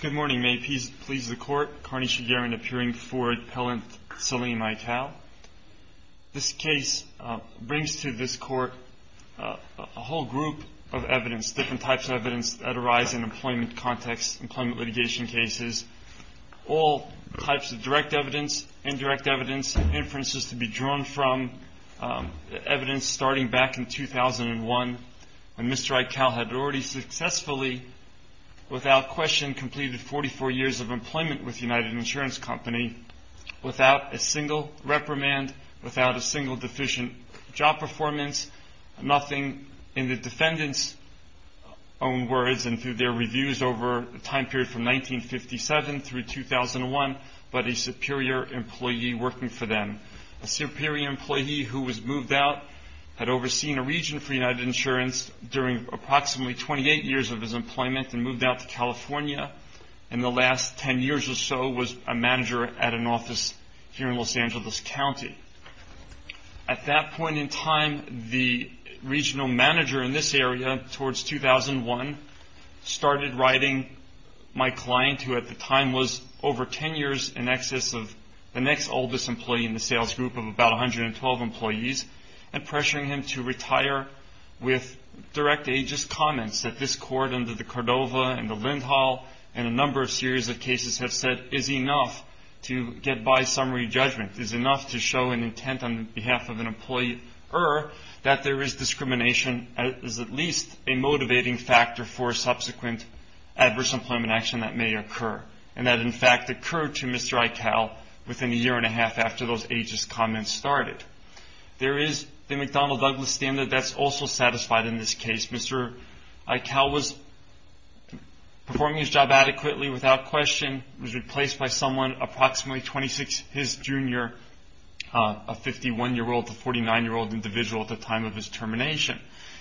Good morning. May it please the Court. Carney Shigerian appearing before Appellant Salim Iqal. This case brings to this Court a whole group of evidence, different types of evidence, that arise in employment contexts, employment litigation cases. All types of direct evidence, indirect evidence, inferences to be drawn from, evidence starting back in 2001, when Mr. Iqal had already successfully, without question, completed 44 years of employment with United Insurance Company, without a single reprimand, without a single deficient job performance, nothing in the defendant's own words and through their reviews over a time period from 1957 through 2001, but a superior employee working for them. A superior employee who was moved out, had overseen a region for United Insurance during approximately 28 years of his employment and moved out to California, and the last 10 years or so was a manager at an office here in Los Angeles County. At that point in time, the regional manager in this area, towards 2001, started writing my client, who at the time was over 10 years in excess of the next oldest employee in the sales group of about 112 employees, and pressuring him to retire with direct ageist comments that this Court under the Cordova and the Lindhall and a number of series of cases have said is enough to get by summary judgment, is enough to show an intent on behalf of an employee or that there is discrimination as at least a motivating factor for subsequent adverse employment action that may occur, and that in fact occurred to Mr. Eichel within a year and a half after those ageist comments started. There is the McDonnell Douglas standard that's also satisfied in this case. Mr. Eichel was performing his job adequately without question, was replaced by someone approximately 26 his junior, a 51-year-old to 49-year-old individual at the time of his termination.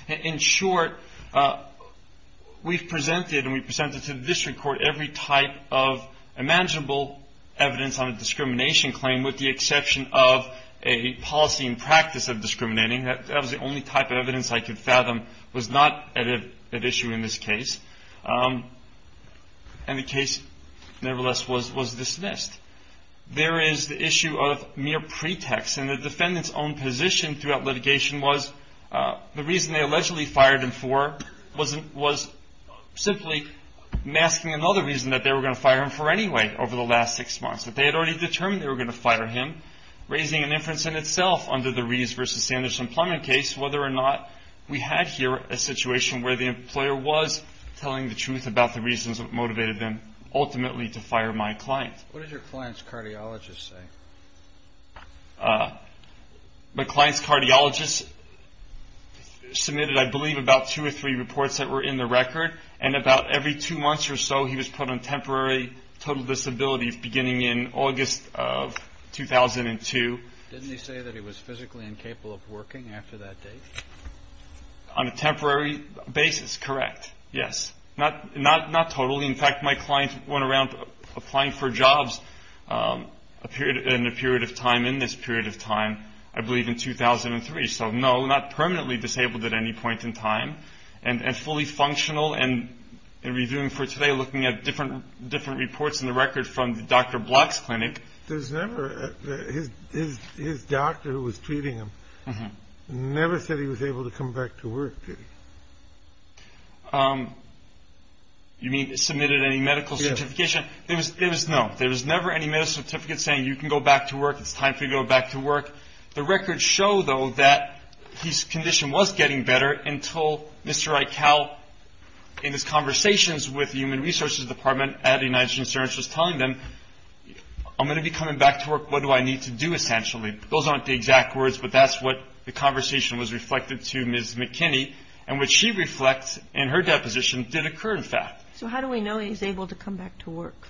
In short, we've presented, and we presented to the District Court, every type of imaginable evidence on a discrimination claim with the exception of a policy and practice of discriminating. That was the only type of evidence I could fathom was not at issue in this case, and the case nevertheless was dismissed. There is the issue of mere pretext, and the defendant's own position throughout litigation was the reason they allegedly fired him for was simply masking another reason that they were going to fire him for anyway over the last six months, that they had already determined they were going to fire him, raising an inference in itself under the Rees versus Sanders employment case whether or not we had here a situation where the employer was telling the truth about the reasons that motivated them ultimately to fire my client. What did your client's cardiologist say? My client's cardiologist submitted, I believe, about two or three reports that were in the record, and about every two months or so he was put on temporary total disability beginning in August of 2002. Didn't he say that he was physically incapable of working after that date? On a temporary basis, correct. Yes. Not totally. In fact, my client went around applying for jobs in a period of time, in this period of time, I believe in 2003. So, no, not permanently disabled at any point in time, and fully functional, and in reviewing for today looking at different reports in the record from Dr. Block's clinic. His doctor who was treating him never said he was able to come back to work, did he? You mean submitted any medical certification? Yes. No, there was never any medical certificate saying you can go back to work. It's time for you to go back to work. The records show, though, that his condition was getting better until Mr. Eichel, in his conversations with the Human Resources Department at United Insurance, was telling them, I'm going to be coming back to work. What do I need to do, essentially? Those aren't the exact words, but that's what the conversation was reflected to Ms. McKinney, and what she reflects in her deposition did occur, in fact. So how do we know he's able to come back to work?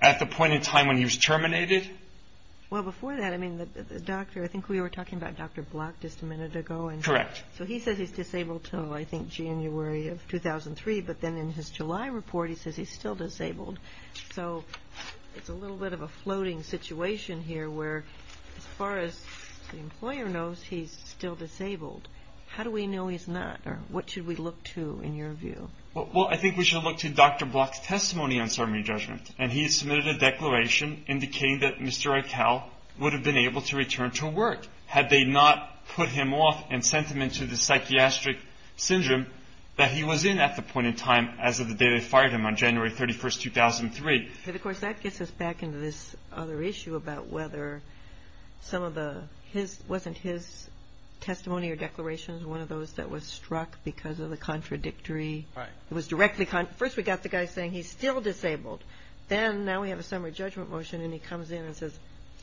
At the point in time when he was terminated? Well, before that, I mean, the doctor, I think we were talking about Dr. Block just a minute ago. Correct. So he says he's disabled until, I think, January of 2003, but then in his July report he says he's still disabled. So it's a little bit of a floating situation here where, as far as the employer knows, he's still disabled. How do we know he's not, or what should we look to in your view? Well, I think we should look to Dr. Block's testimony on summary judgment, and he has submitted a declaration indicating that Mr. Eichel would have been able to return to work had they not put him off and sent him into the psychiatric syndrome that he was in at the point in time as of the day they fired him on January 31, 2003. And, of course, that gets us back into this other issue about whether some of the, wasn't his testimony or declaration one of those that was struck because of the contradictory? Right. It was directly, first we got the guy saying he's still disabled. Then now we have a summary judgment motion, and he comes in and says,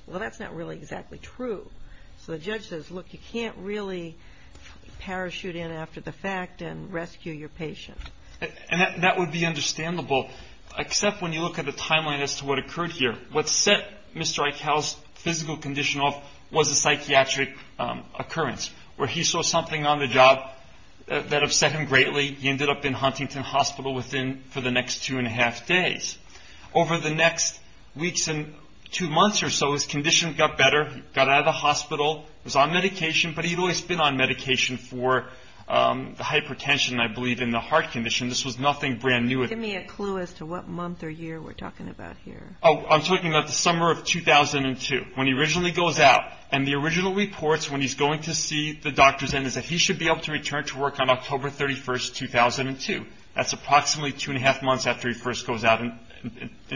well, that's not really exactly true. So the judge says, look, you can't really parachute in after the fact and rescue your patient. And that would be understandable, except when you look at the timeline as to what occurred here. What set Mr. Eichel's physical condition off was a psychiatric occurrence where he saw something on the job that upset him greatly. He ended up in Huntington Hospital for the next two and a half days. Over the next weeks and two months or so, his condition got better. He got out of the hospital, was on medication, but he'd always been on medication for the hypertension, I believe, and the heart condition. This was nothing brand new. Give me a clue as to what month or year we're talking about here. I'm talking about the summer of 2002 when he originally goes out. And the original reports when he's going to see the doctors is that he should be able to return to work on October 31, 2002. That's approximately two and a half months after he first goes out in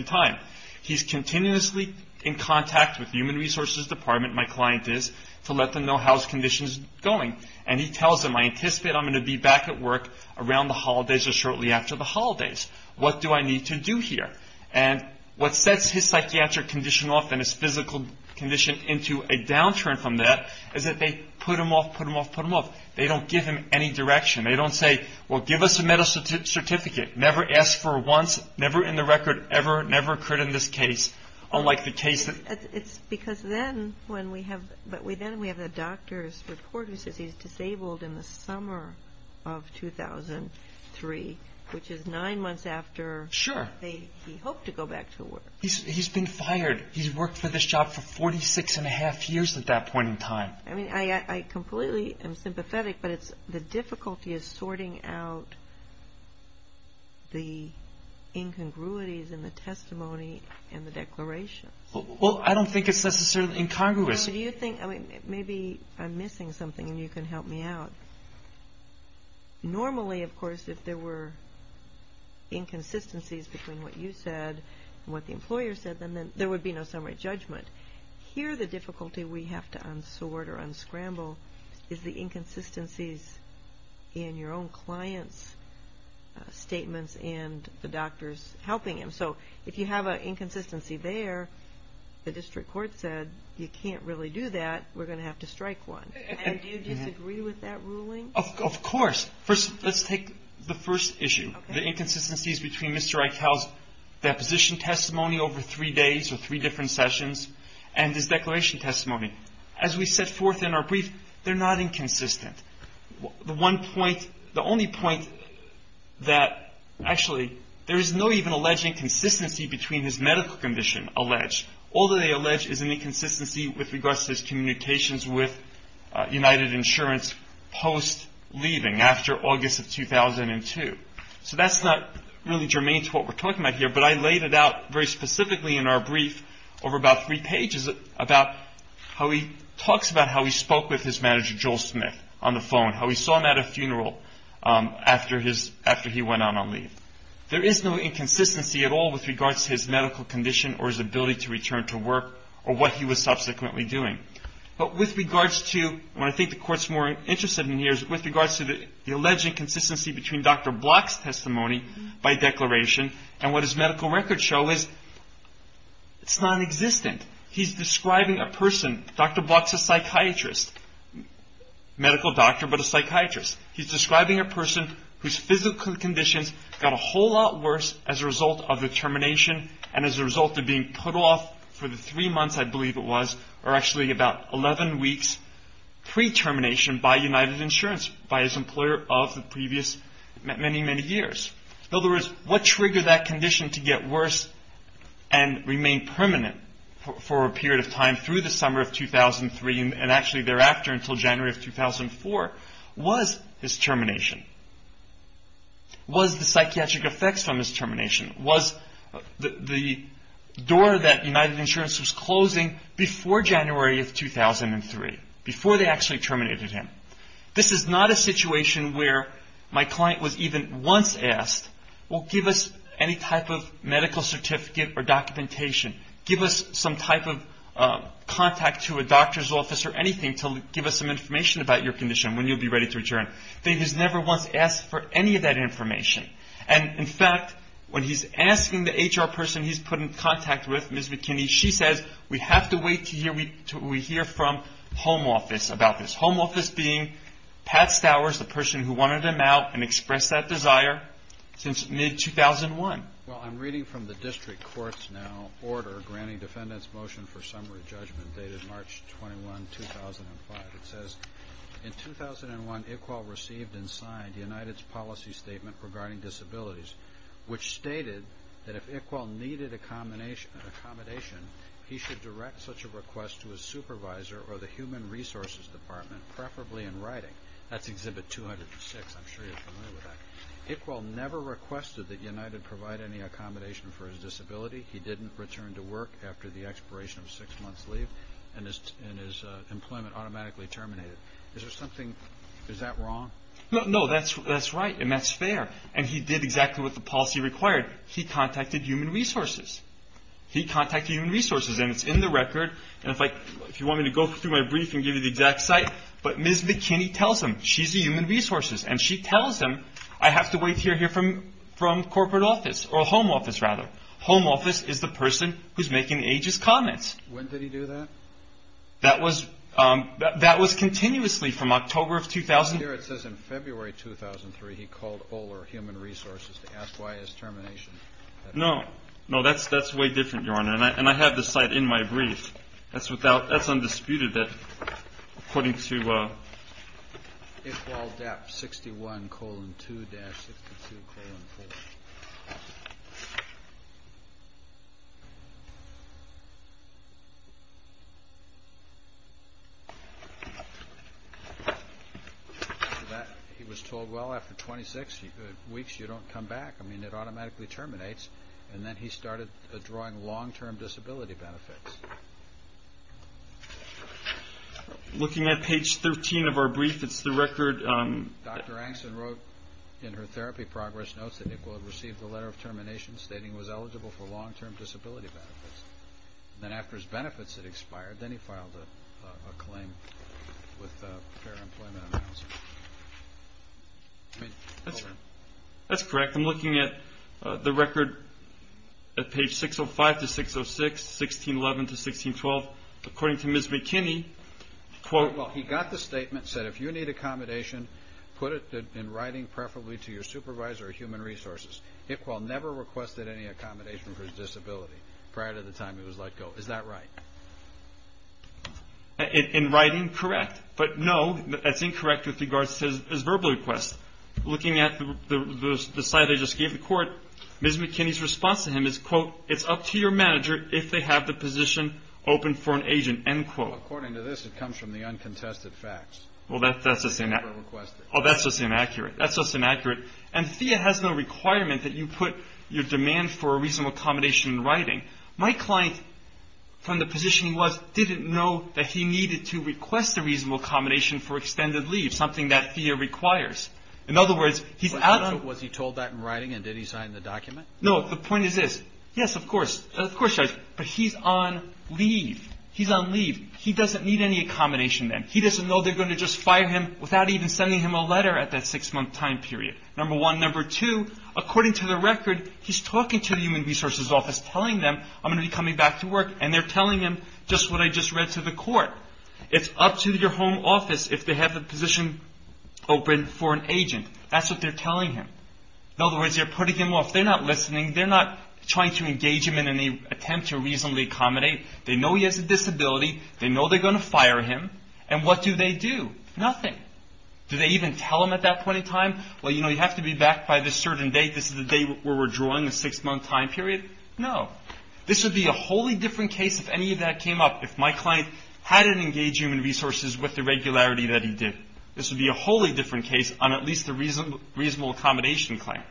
time. He's continuously in contact with the Human Resources Department, my client is, to let them know how his condition is going. And he tells them, I anticipate I'm going to be back at work around the holidays or shortly after the holidays. What do I need to do here? And what sets his psychiatric condition off and his physical condition into a downturn from that is that they put him off, put him off, put him off. They don't give him any direction. They don't say, well, give us a medical certificate. Never asked for it once, never in the record ever, never occurred in this case, unlike the case that... It's because then when we have, but then we have the doctor's report who says he's disabled in the summer of 2003, which is nine months after... Sure. He hoped to go back to work. He's been fired. He's worked for this job for 46 and a half years at that point in time. I mean, I completely am sympathetic, but the difficulty is sorting out the incongruities in the testimony and the declaration. Well, I don't think it's necessarily incongruous. Well, do you think, I mean, maybe I'm missing something and you can help me out. Normally, of course, if there were inconsistencies between what you said and what the employer said, then there would be no summary judgment. Here, the difficulty we have to unsort or unscramble is the inconsistencies in your own client's statements and the doctor's helping him. So if you have an inconsistency there, the district court said you can't really do that. We're going to have to strike one. And do you disagree with that ruling? Of course. First, let's take the first issue, the inconsistencies between Mr. Eichel's deposition testimony over three days or three different sessions and his declaration testimony. As we set forth in our brief, they're not inconsistent. The one point, the only point that actually there is no even alleged inconsistency between his medical condition alleged. All that they allege is an inconsistency with regards to his communications with United Insurance post-leaving after August of 2002. So that's not really germane to what we're talking about here, but I laid it out very specifically in our brief over about three pages about how he talks about how he spoke with his manager, Joel Smith, on the phone, how he saw him at a funeral after he went on leave. There is no inconsistency at all with regards to his medical condition or his ability to return to work or what he was subsequently doing. But with regards to what I think the court's more interested in here is with regards to the alleged inconsistency between Dr. Block's testimony by declaration and what his medical records show is it's nonexistent. He's describing a person, Dr. Block's a psychiatrist, medical doctor, but a psychiatrist. He's describing a person whose physical conditions got a whole lot worse as a result of the termination and as a result of being put off for the three months, I believe it was, or actually about 11 weeks pre-termination by United Insurance, by his employer of the previous many, many years. In other words, what triggered that condition to get worse and remain permanent for a period of time through the summer of 2003 and actually thereafter until January of 2004 was his termination. Was the psychiatric effects on his termination? Was the door that United Insurance was closing before January of 2003, before they actually terminated him? This is not a situation where my client was even once asked, well, give us any type of medical certificate or documentation. Give us some type of contact to a doctor's office or anything to give us some information about your condition when you'll be ready to return. They just never once asked for any of that information. And, in fact, when he's asking the HR person he's put in contact with, Ms. McKinney, she says, we have to wait until we hear from home office about this. Home office being Pat Stowers, the person who wanted him out and expressed that desire since mid-2001. Well, I'm reading from the district court's now order granting defendant's motion for summary judgment dated March 21, 2005. It says, in 2001, Iqbal received and signed United's policy statement regarding disabilities, which stated that if Iqbal needed accommodation, he should direct such a request to his supervisor or the human resources department, preferably in writing. That's Exhibit 206. I'm sure you're familiar with that. Iqbal never requested that United provide any accommodation for his disability. He didn't return to work after the expiration of six months' leave, and his employment automatically terminated. Is there something, is that wrong? No, that's right, and that's fair. And he did exactly what the policy required. He contacted human resources. He contacted human resources, and it's in the record. And if you want me to go through my brief and give you the exact site, but Ms. McKinney tells him. She's the human resources, and she tells him, I have to wait to hear from corporate office, or home office, rather. Home office is the person who's making ageist comments. When did he do that? That was continuously from October of 2000. Here it says in February 2003, he called OLR, human resources, to ask why his termination. No, no, that's way different, Your Honor, and I have the site in my brief. That's undisputed, according to IqbalDep 61 colon 2 dash 62 colon 4. He was told, well, after 26 weeks, you don't come back. I mean, it automatically terminates, and then he started drawing long-term disability benefits. Looking at page 13 of our brief, it's the record. Dr. Angston wrote in her therapy progress notes that Iqbal had received a letter of termination stating he was eligible for long-term disability benefits. Then after his benefits had expired, then he filed a claim with Fair Employment Analysis. That's correct. I'm looking at the record at page 605 to 606, 1611 to 1612. According to Ms. McKinney, quote, Well, he got the statement, said if you need accommodation, put it in writing, preferably to your supervisor or human resources. Iqbal never requested any accommodation for his disability prior to the time he was let go. Is that right? In writing, correct, but no, that's incorrect with regards to his verbal request. Looking at the slide I just gave the court, Ms. McKinney's response to him is, quote, it's up to your manager if they have the position open for an agent, end quote. Well, according to this, it comes from the uncontested facts. Well, that's just inaccurate. That's just inaccurate. And FEA has no requirement that you put your demand for a reasonable accommodation in writing. My client, from the position he was, didn't know that he needed to request a reasonable accommodation for extended leave, something that FEA requires. In other words, he's out of Was he told that in writing, and did he sign the document? No, the point is this. Yes, of course. Of course, but he's on leave. He's on leave. He doesn't need any accommodation then. He doesn't know they're going to just fire him without even sending him a letter at that six-month time period. Number one. Number two, according to the record, he's talking to the human resources office, telling them, I'm going to be coming back to work, and they're telling him just what I just read to the court. It's up to your home office if they have the position open for an agent. That's what they're telling him. In other words, they're putting him off. They're not listening. They're not trying to engage him in any attempt to reasonably accommodate. They know he has a disability. They know they're going to fire him. And what do they do? Nothing. Do they even tell him at that point in time, well, you know, you have to be back by this certain date. This is the date where we're drawing the six-month time period. No. This would be a wholly different case if any of that came up, if my client hadn't engaged human resources with the regularity that he did. This would be a wholly different case on at least the reasonable accommodation claim.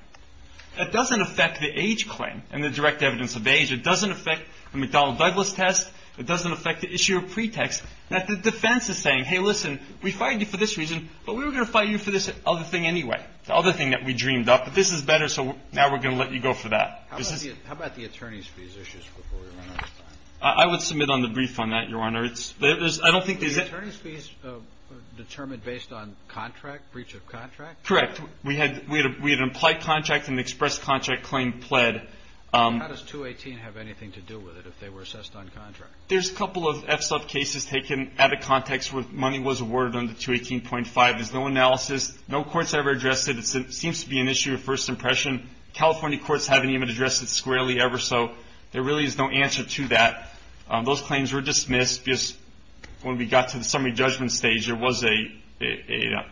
That doesn't affect the age claim and the direct evidence of age. It doesn't affect the McDonnell-Douglas test. It doesn't affect the issue of pretext. The defense is saying, hey, listen, we fired you for this reason, but we were going to fire you for this other thing anyway, the other thing that we dreamed up. But this is better, so now we're going to let you go for that. How about the attorney's fees issues before we run out of time? I would submit on the brief on that, Your Honor. Were the attorney's fees determined based on contract, breach of contract? Correct. We had implied contract and expressed contract claim pled. How does 218 have anything to do with it if they were assessed on contract? There's a couple of FSUF cases taken out of context where money was awarded under 218.5. There's no analysis. No court's ever addressed it. It seems to be an issue of first impression. California courts haven't even addressed it squarely ever, so there really is no answer to that. Those claims were dismissed because when we got to the summary judgment stage, there was an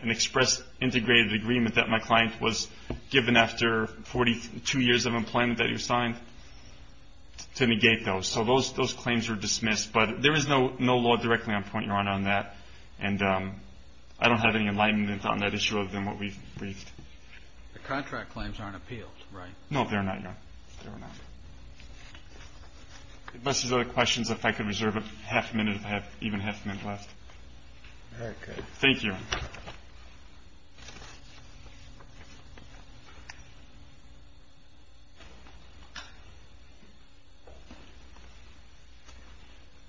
express integrated agreement that my client was given after 42 years of employment that he was signed to negate those. So those claims were dismissed, but there is no law directly on point, Your Honor, on that, and I don't have any enlightenment on that issue other than what we've briefed. The contract claims aren't appealed, right? No, they're not, Your Honor. They're not. Unless there's other questions, if I could reserve a half minute, I have even half a minute left. All right. Good. Thank you.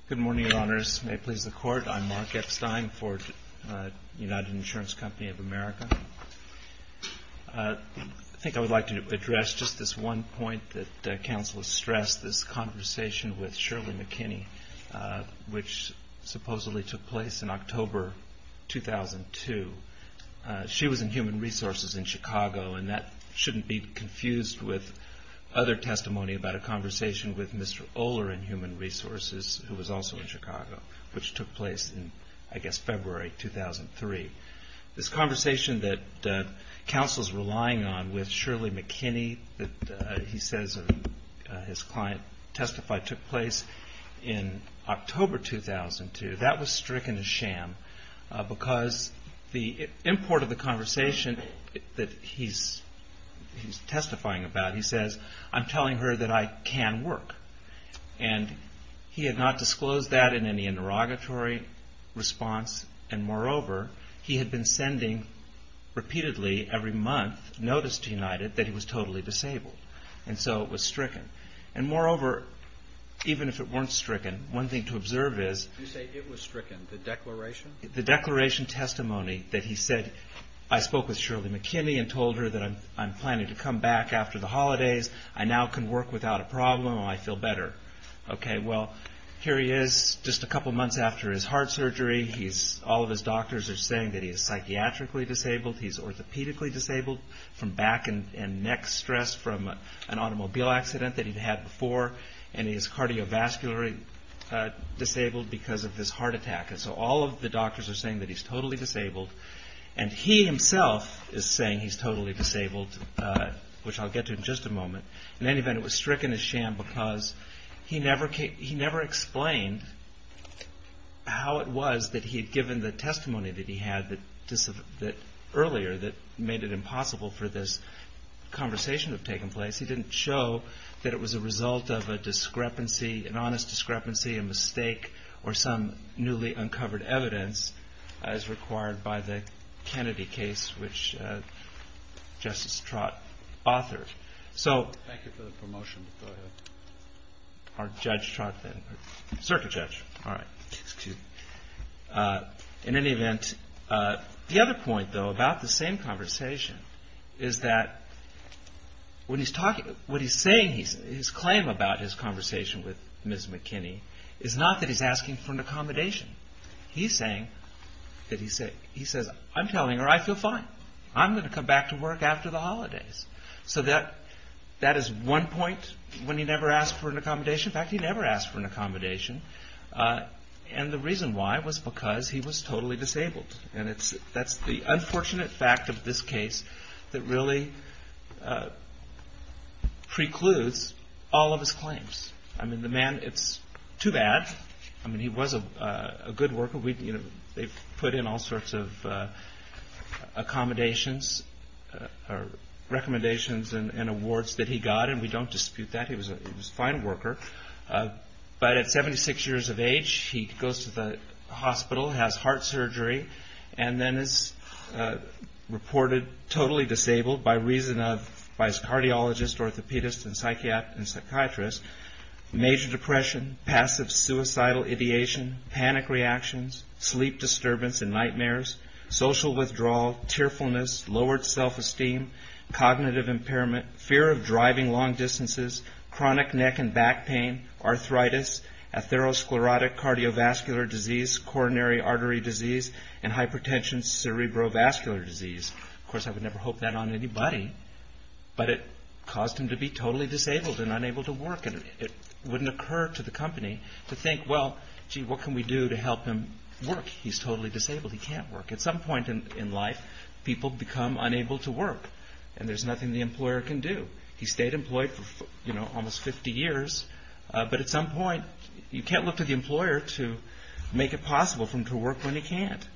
Good morning, Your Honors. May it please the Court. I'm Mark Epstein for United Insurance Company of America. I think I would like to address just this one point that counsel has stressed, this conversation with Shirley McKinney, which supposedly took place in October 2002. She was in Human Resources in Chicago, and that shouldn't be confused with other testimony about a conversation with Mr. Oler in Human Resources, who was also in Chicago, which took place in, I guess, February 2003. This conversation that counsel's relying on with Shirley McKinney that he says his client testified took place in October 2002, that was stricken as sham because the import of the conversation that he's testifying about, he says, I'm telling her that I can work. And he had not disclosed that in any interrogatory response, and moreover, he had been sending repeatedly every month notice to United that he was totally disabled. And so it was stricken. And moreover, even if it weren't stricken, one thing to observe is. You say it was stricken, the declaration? The declaration testimony that he said, I spoke with Shirley McKinney and told her that I'm planning to come back after the holidays. I now can work without a problem and I feel better. Okay, well, here he is just a couple months after his heart surgery. All of his doctors are saying that he is psychiatrically disabled. He's orthopedically disabled from back and neck stress from an automobile accident that he'd had before. And he's cardiovascularly disabled because of this heart attack. And so all of the doctors are saying that he's totally disabled. And he himself is saying he's totally disabled, which I'll get to in just a moment. In any event, it was stricken as sham because he never explained how it was that he had given the testimony that he had earlier that made it impossible for this conversation to have taken place. He didn't show that it was a result of a discrepancy, an honest discrepancy, a mistake, or some newly uncovered evidence as required by the Kennedy case, which Justice Trott authored. Thank you for the promotion. Go ahead. Or Judge Trott. Circuit judge. All right. Excuse me. In any event, the other point, though, about the same conversation is that what he's saying, his claim about his conversation with Ms. McKinney is not that he's asking for an accommodation. He's saying that he says, I'm telling her I feel fine. I'm going to come back to work after the holidays. So that is one point when he never asked for an accommodation. In fact, he never asked for an accommodation. And the reason why was because he was totally disabled. And that's the unfortunate fact of this case that really precludes all of his claims. I mean, the man, it's too bad. I mean, he was a good worker. They put in all sorts of accommodations or recommendations and awards that he got. And we don't dispute that. He was a fine worker. But at 76 years of age, he goes to the hospital, has heart surgery, and then is reported totally disabled by reason of his cardiologist, orthopedist, and psychiatrist, major depression, passive suicidal ideation, panic reactions, sleep disturbance and nightmares, social withdrawal, tearfulness, lowered self-esteem, cognitive impairment, fear of driving long distances, chronic neck and back pain, arthritis, atherosclerotic cardiovascular disease, coronary artery disease, and hypertension cerebrovascular disease. Of course, I would never hope that on anybody. But it caused him to be totally disabled and unable to work. And it wouldn't occur to the company to think, well, gee, what can we do to help him work? He's totally disabled. He can't work. At some point in life, people become unable to work. And there's nothing the employer can do. He stayed employed for almost 50 years. But at some point, you can't look to the employer to make it possible for him to work when he can't.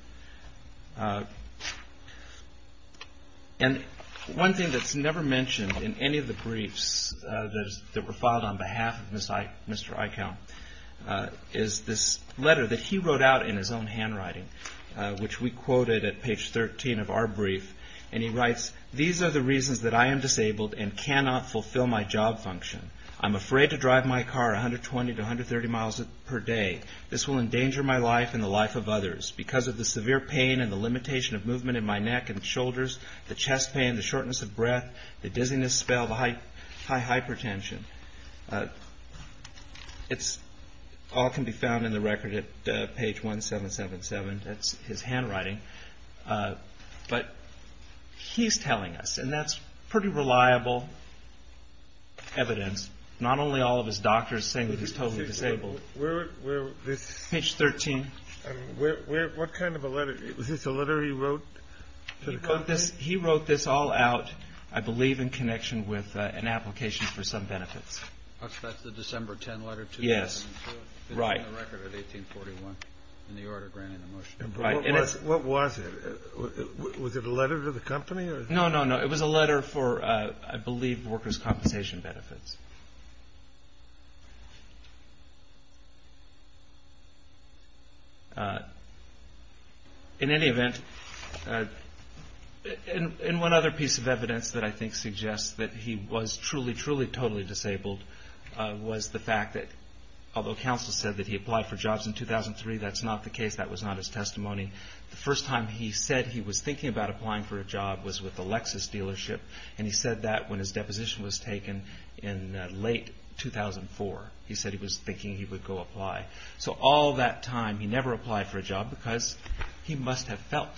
And one thing that's never mentioned in any of the briefs that were filed on behalf of Mr. Eichel is this letter that he wrote out in his own handwriting, which we quoted at page 13 of our brief. And he writes, these are the reasons that I am disabled and cannot fulfill my job function. I'm afraid to drive my car 120 to 130 miles per day. This will endanger my life and the life of others. Because of the severe pain and the limitation of movement in my neck and shoulders, the chest pain, the shortness of breath, the dizziness, spell, the hypertension. It all can be found in the record at page 1777. That's his handwriting. But he's telling us, and that's pretty reliable evidence. Not only all of his doctors saying that he's totally disabled. Page 13. What kind of a letter? Was this a letter he wrote to the company? He wrote this all out, I believe, in connection with an application for some benefits. That's the December 10 letter? Yes. It's in the record of 1841 in the order granting the motion. What was it? Was it a letter to the company? No, no, no. It was a letter for, I believe, workers' compensation benefits. In any event, in one other piece of evidence that I think suggests that he was truly, truly, totally disabled was the fact that although counsel said that he applied for jobs in 2003, that's not the case. That was not his testimony. The first time he said he was thinking about applying for a job was with the Lexus dealership, and he said that when his deposition was taken in late 2004. He said he was thinking he would go apply. So all that time he never applied for a job because he must have felt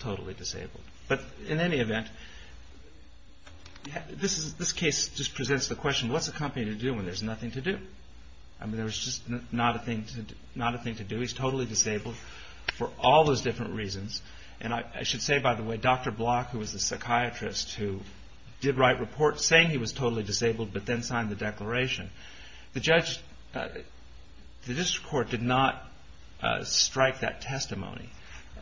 totally disabled. But in any event, this case just presents the question, what's a company to do when there's nothing to do? There's just not a thing to do. He's totally disabled for all those different reasons. And I should say, by the way, Dr. Block, who was a psychiatrist who did write reports saying he was totally disabled but then signed the declaration, the district court did not strike that testimony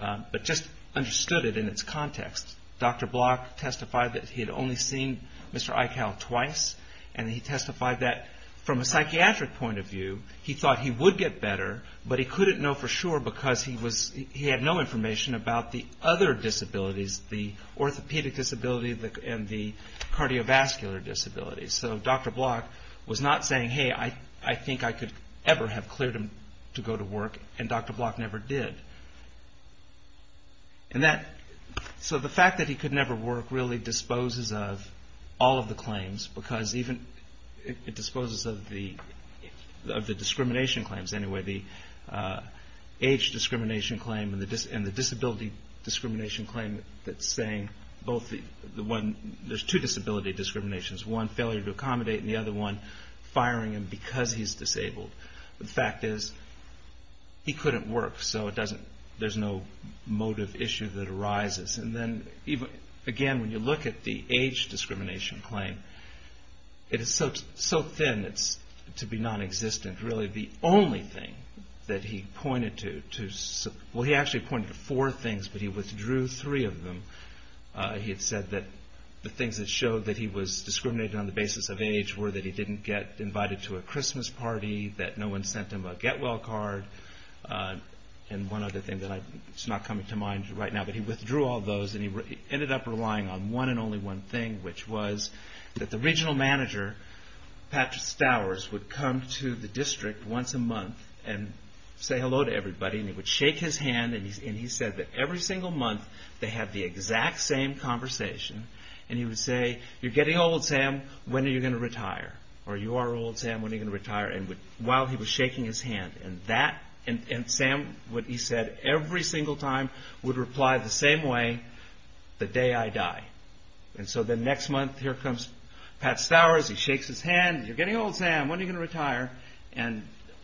but just understood it in its context. Dr. Block testified that he had only seen Mr. Eichel twice, and he testified that from a psychiatric point of view he thought he would get better, but he couldn't know for sure because he had no information about the other disabilities, the orthopedic disability and the cardiovascular disability. So Dr. Block was not saying, hey, I think I could ever have cleared him to go to work, and Dr. Block never did. So the fact that he could never work really disposes of all of the claims because even it disposes of the discrimination claims anyway, the age discrimination claim and the disability discrimination claim that's saying both the one, there's two disability discriminations, one, failure to accommodate, and the other one, firing him because he's disabled. The fact is he couldn't work, so there's no motive issue that arises. And then, again, when you look at the age discrimination claim, it is so thin it's to be nonexistent. Really the only thing that he pointed to, well, he actually pointed to four things, but he withdrew three of them. He had said that the things that showed that he was discriminated on the basis of age were that he didn't get invited to a Christmas party, that no one sent him a get-well card, and one other thing that's not coming to mind right now, but he withdrew all those and he ended up relying on one and only one thing, which was that the regional manager, Patrick Stowers, would come to the district once a month and say hello to everybody and he would shake his hand and he said that every single month they had the exact same conversation and he would say, you're getting old, Sam, when are you going to retire? Or you are old, Sam, when are you going to retire? While he was shaking his hand and Sam, what he said every single time would reply the same way, the day I die. And so the next month here comes Pat Stowers, he shakes his hand, you're getting old, Sam, when are you going to retire? And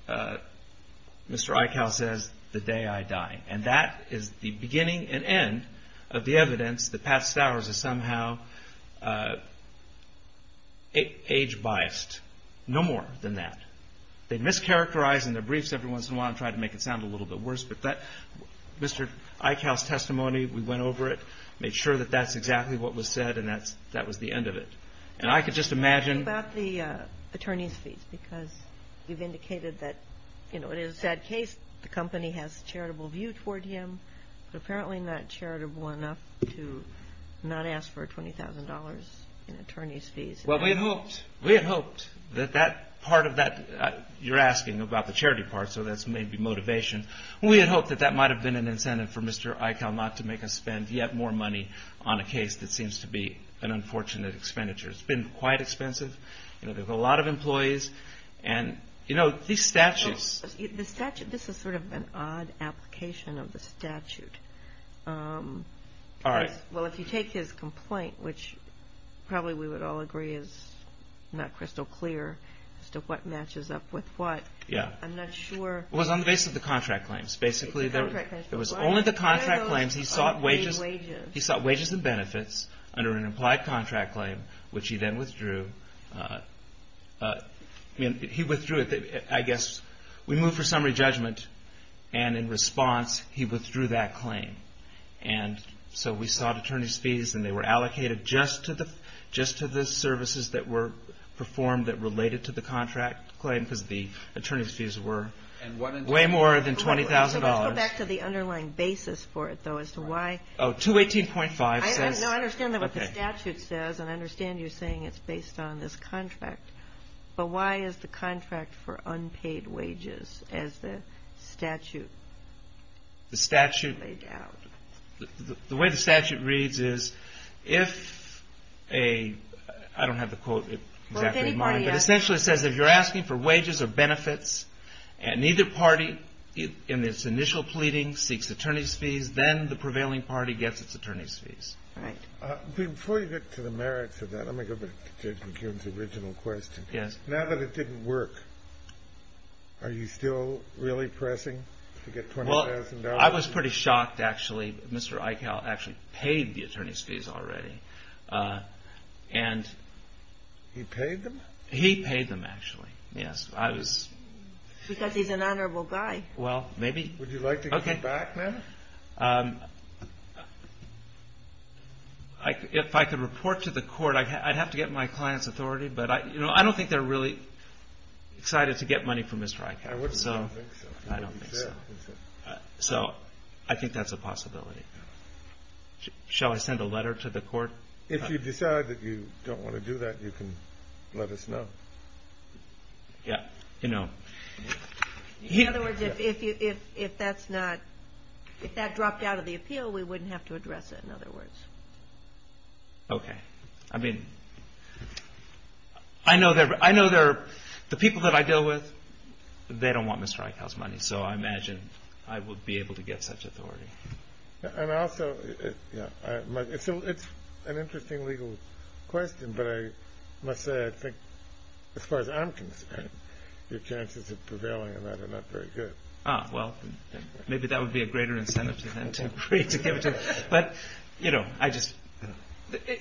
Mr. Eichau says, the day I die. And that is the beginning and end of the evidence that Pat Stowers is somehow age-biased. No more than that. They'd mischaracterize in their briefs every once in a while and try to make it sound a little bit worse, but Mr. Eichau's testimony, we went over it, made sure that that's exactly what was said and that was the end of it. And I could just imagine. What about the attorney's fees? Because you've indicated that, you know, it is a sad case, the company has a charitable view toward him, We had hoped that part of that, you're asking about the charity part, so that's maybe motivation. We had hoped that that might have been an incentive for Mr. Eichau not to make us spend yet more money on a case that seems to be an unfortunate expenditure. It's been quite expensive, you know, there's a lot of employees and, you know, these statutes. The statute, this is sort of an odd application of the statute. All right. Well, if you take his complaint, which probably we would all agree is not crystal clear as to what matches up with what. Yeah. I'm not sure. It was on the basis of the contract claims. Basically, there was only the contract claims. He sought wages and benefits under an implied contract claim, which he then withdrew. I mean, he withdrew it, I guess, we moved for summary judgment, and in response, he withdrew that claim. And so we sought attorney's fees, and they were allocated just to the services that were performed that related to the contract claim because the attorney's fees were way more than $20,000. Let's go back to the underlying basis for it, though, as to why. Oh, 218.5 says. No, I understand what the statute says, and I understand you saying it's based on this contract, but why is the contract for unpaid wages as the statute laid out? The way the statute reads is if a, I don't have the quote exactly in mind, but essentially it says if you're asking for wages or benefits, and neither party in its initial pleading seeks attorney's fees, then the prevailing party gets its attorney's fees. Right. Before you get to the merits of that, let me go back to Judge McCune's original question. Yes. Now that it didn't work, are you still really pressing to get $20,000? I was pretty shocked, actually. Mr. Eichel actually paid the attorney's fees already, and. He paid them? He paid them, actually. Yes, I was. Because he's an honorable guy. Well, maybe. Would you like to go back, then? If I could report to the court, I'd have to get my client's authority, but I don't think they're really excited to get money from Mr. Eichel. I wouldn't think so. I don't think so. So I think that's a possibility. Shall I send a letter to the court? If you decide that you don't want to do that, you can let us know. Yeah. You know. In other words, if that's not, if that dropped out of the appeal, we wouldn't have to address it, in other words. Okay. I mean, I know the people that I deal with, they don't want Mr. Eichel's money, so I imagine I would be able to get such authority. And also, it's an interesting legal question, but I must say I think as far as I'm concerned, your chances of prevailing on that are not very good. Ah, well, maybe that would be a greater incentive to them to agree to give it to us. But, you know, I just,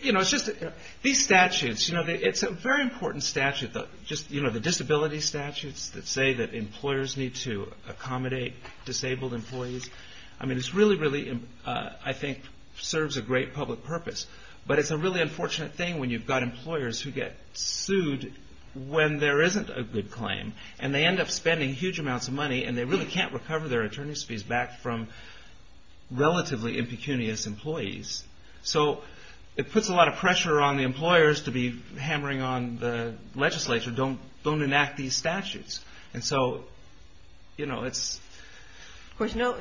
you know, it's just these statutes, you know, it's a very important statute, just, you know, the disability statutes that say that employers need to accommodate disabled employees. I mean, it's really, really, I think, serves a great public purpose. But it's a really unfortunate thing when you've got employers who get sued when there isn't a good claim, and they end up spending huge amounts of money, and they really can't recover their attorney's fees back from relatively impecunious employees. So it puts a lot of pressure on the employers to be hammering on the legislature, don't enact these statutes. And so, you know, it's... Of course, no,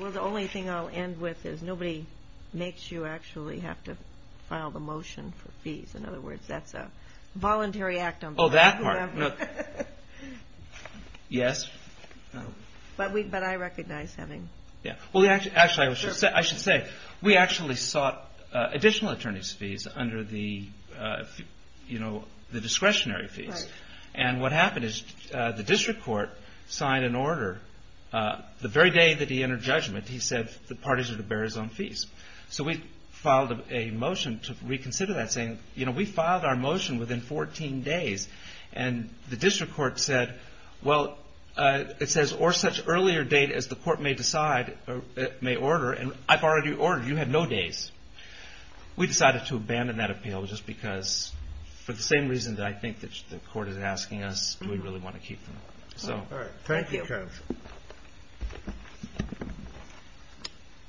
well, the only thing I'll end with is nobody makes you actually have to file the motion for fees. In other words, that's a voluntary act on behalf of whoever... Yes. But I recognize having... Well, actually, I should say, we actually sought additional attorney's fees under the, you know, the discretionary fees. And what happened is the district court signed an order. The very day that he entered judgment, he said the parties are to bear his own fees. So we filed a motion to reconsider that, saying, you know, we filed our motion within 14 days. And the district court said, well, it says, or such earlier date as the court may decide, may order. And I've already ordered. You have no days. We decided to abandon that appeal just because, for the same reason that I think the court is asking us, do we really want to keep them. All right. Thank you, Kev.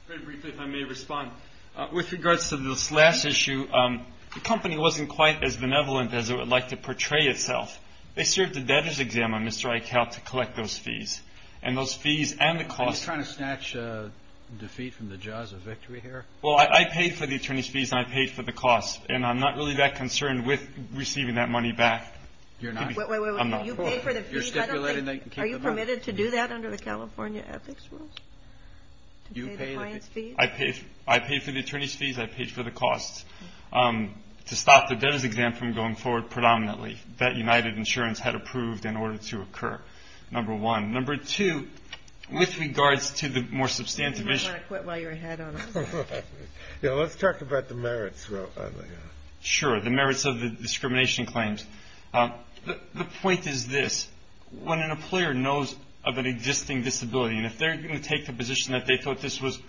Very briefly, if I may respond. With regards to this last issue, the company wasn't quite as benevolent as it would like to portray itself. They served a debtors' exam on Mr. Eichel to collect those fees. And those fees and the costs... Are you trying to snatch defeat from the jaws of victory here? Well, I paid for the attorney's fees and I paid for the costs. And I'm not really that concerned with receiving that money back. You're not? I'm not. Wait, wait, wait. You paid for the fees. Are you permitted to do that under the California ethics rules, to pay the client's fees? I paid for the attorney's fees. I paid for the costs. To stop the debtors' exam from going forward, predominantly, that United Insurance had approved in order to occur, number one. Number two, with regards to the more substantive issue... Do you want to quit while you're ahead on it? Yeah, let's talk about the merits. Sure. The merits of the discrimination claims. The point is this. When an employer knows of an existing disability, and if they're going to take the position that they thought this was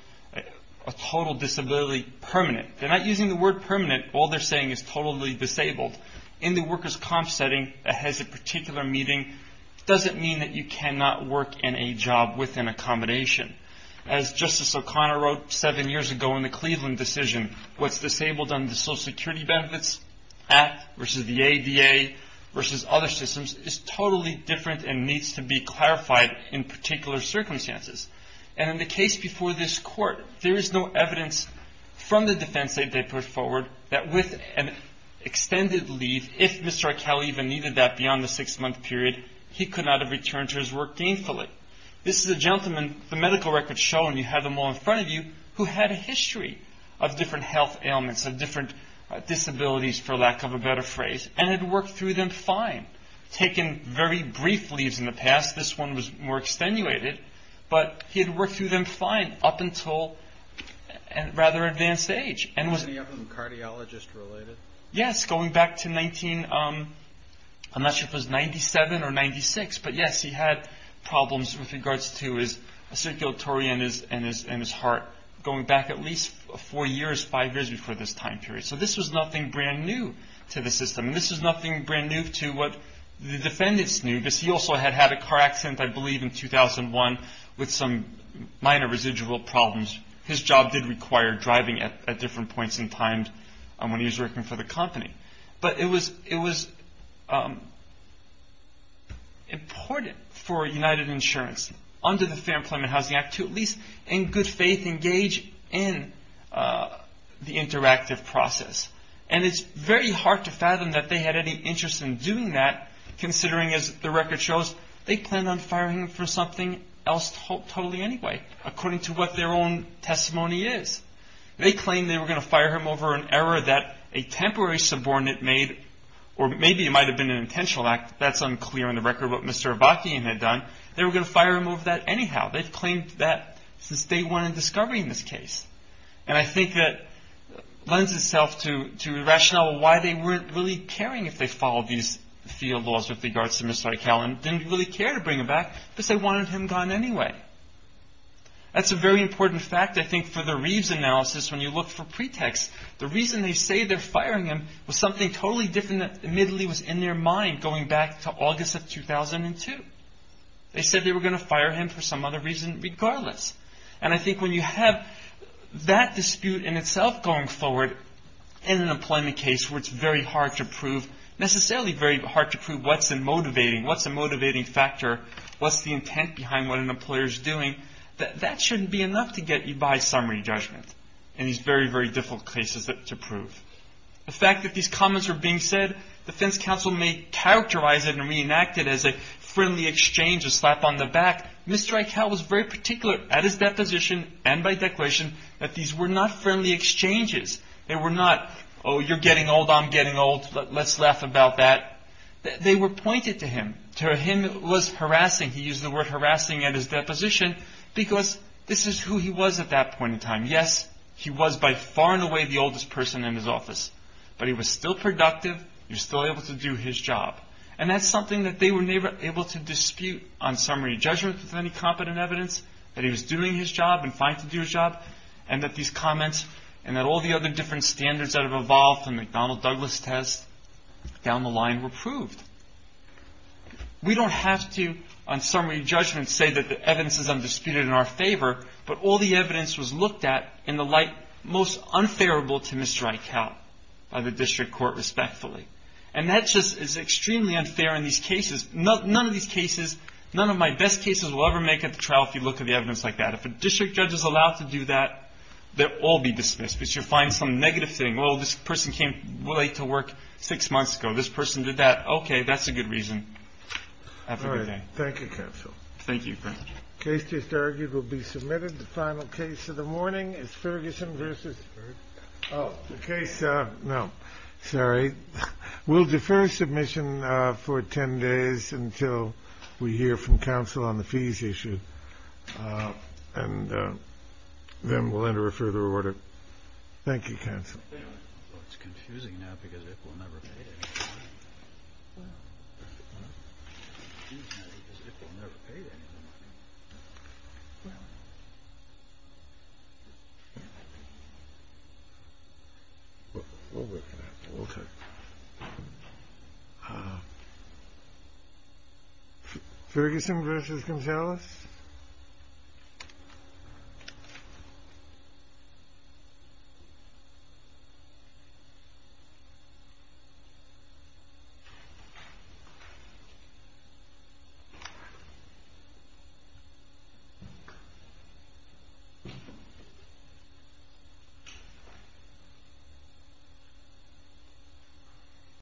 a total disability permanent, they're not using the word permanent. All they're saying is totally disabled. In the workers' comp setting that has a particular meeting, it doesn't mean that you cannot work in a job with an accommodation. As Justice O'Connor wrote seven years ago in the Cleveland decision, what's disabled under the Social Security Benefits Act versus the ADA versus other systems is totally different and needs to be clarified in particular circumstances. In the case before this court, there is no evidence from the defense that they put forward that with an extended leave, if Mr. Arkell even needed that beyond the six-month period, he could not have returned to his work gainfully. This is a gentleman, the medical records show, and you have them all in front of you, who had a history of different health ailments, of different disabilities, for lack of a better phrase, and had worked through them fine. Taken very brief leaves in the past, this one was more extenuated, but he had worked through them fine up until a rather advanced age. Was any of them cardiologist-related? Yes, going back to 1997 or 1996. But yes, he had problems with regards to his circulatory and his heart, going back at least four years, five years before this time period. So this was nothing brand new to the system. This was nothing brand new to what the defendants knew, because he also had had a car accident, I believe, in 2001 with some minor residual problems. His job did require driving at different points in time when he was working for the company. But it was important for United Insurance, under the Fair Employment Housing Act, to at least in good faith engage in the interactive process. And it's very hard to fathom that they had any interest in doing that, considering, as the record shows, they planned on firing him for something else totally anyway, according to what their own testimony is. They claimed they were going to fire him over an error that a temporary subordinate made, or maybe it might have been an intentional act, that's unclear on the record, what Mr. Avakian had done. They were going to fire him over that anyhow. They've claimed that since day one in discovery in this case. And I think that lends itself to rationale why they weren't really caring if they followed these field laws with regards to Mr. Aikala and didn't really care to bring him back, because they wanted him gone anyway. That's a very important fact, I think, for the Reeves analysis when you look for pretext. The reason they say they're firing him was something totally different that admittedly was in their mind going back to August of 2002. They said they were going to fire him for some other reason regardless. And I think when you have that dispute in itself going forward in an employment case where it's very hard to prove, necessarily very hard to prove what's the motivating factor, what's the intent behind what an employer is doing, that shouldn't be enough to get you by summary judgment in these very, very difficult cases to prove. The fact that these comments were being said, defense counsel may characterize it and reenact it as a friendly exchange, a slap on the back. Mr. Aikala was very particular at his deposition and by declaration that these were not friendly exchanges. They were not, oh, you're getting old, I'm getting old, let's laugh about that. They were pointed to him. To him it was harassing, he used the word harassing at his deposition, because this is who he was at that point in time. Yes, he was by far and away the oldest person in his office, but he was still productive, he was still able to do his job. And that's something that they were able to dispute on summary judgment with any competent evidence, that he was doing his job and fine to do his job, and that these comments and that all the other different standards that have evolved from the McDonnell-Douglas test down the line were proved. We don't have to, on summary judgment, say that the evidence is undisputed in our favor, but all the evidence was looked at in the light most unfavorable to Mr. Aikala by the district court, respectfully. And that just is extremely unfair in these cases. None of these cases, none of my best cases will ever make it to trial if you look at the evidence like that. If a district judge is allowed to do that, they'll all be dismissed, because you'll find some negative thing. Well, this person came late to work six months ago. This person did that. Okay, that's a good reason. Have a good day. Thank you, counsel. Thank you. The case just argued will be submitted. The final case of the morning is Ferguson v. Oh, the case, no, sorry. We'll defer submission for 10 days until we hear from counsel on the fees issue. And then we'll enter a further order. Thank you, counsel. It's confusing now because it will never pay. Well. Okay. Oh. Ferguson versus Gonzalez.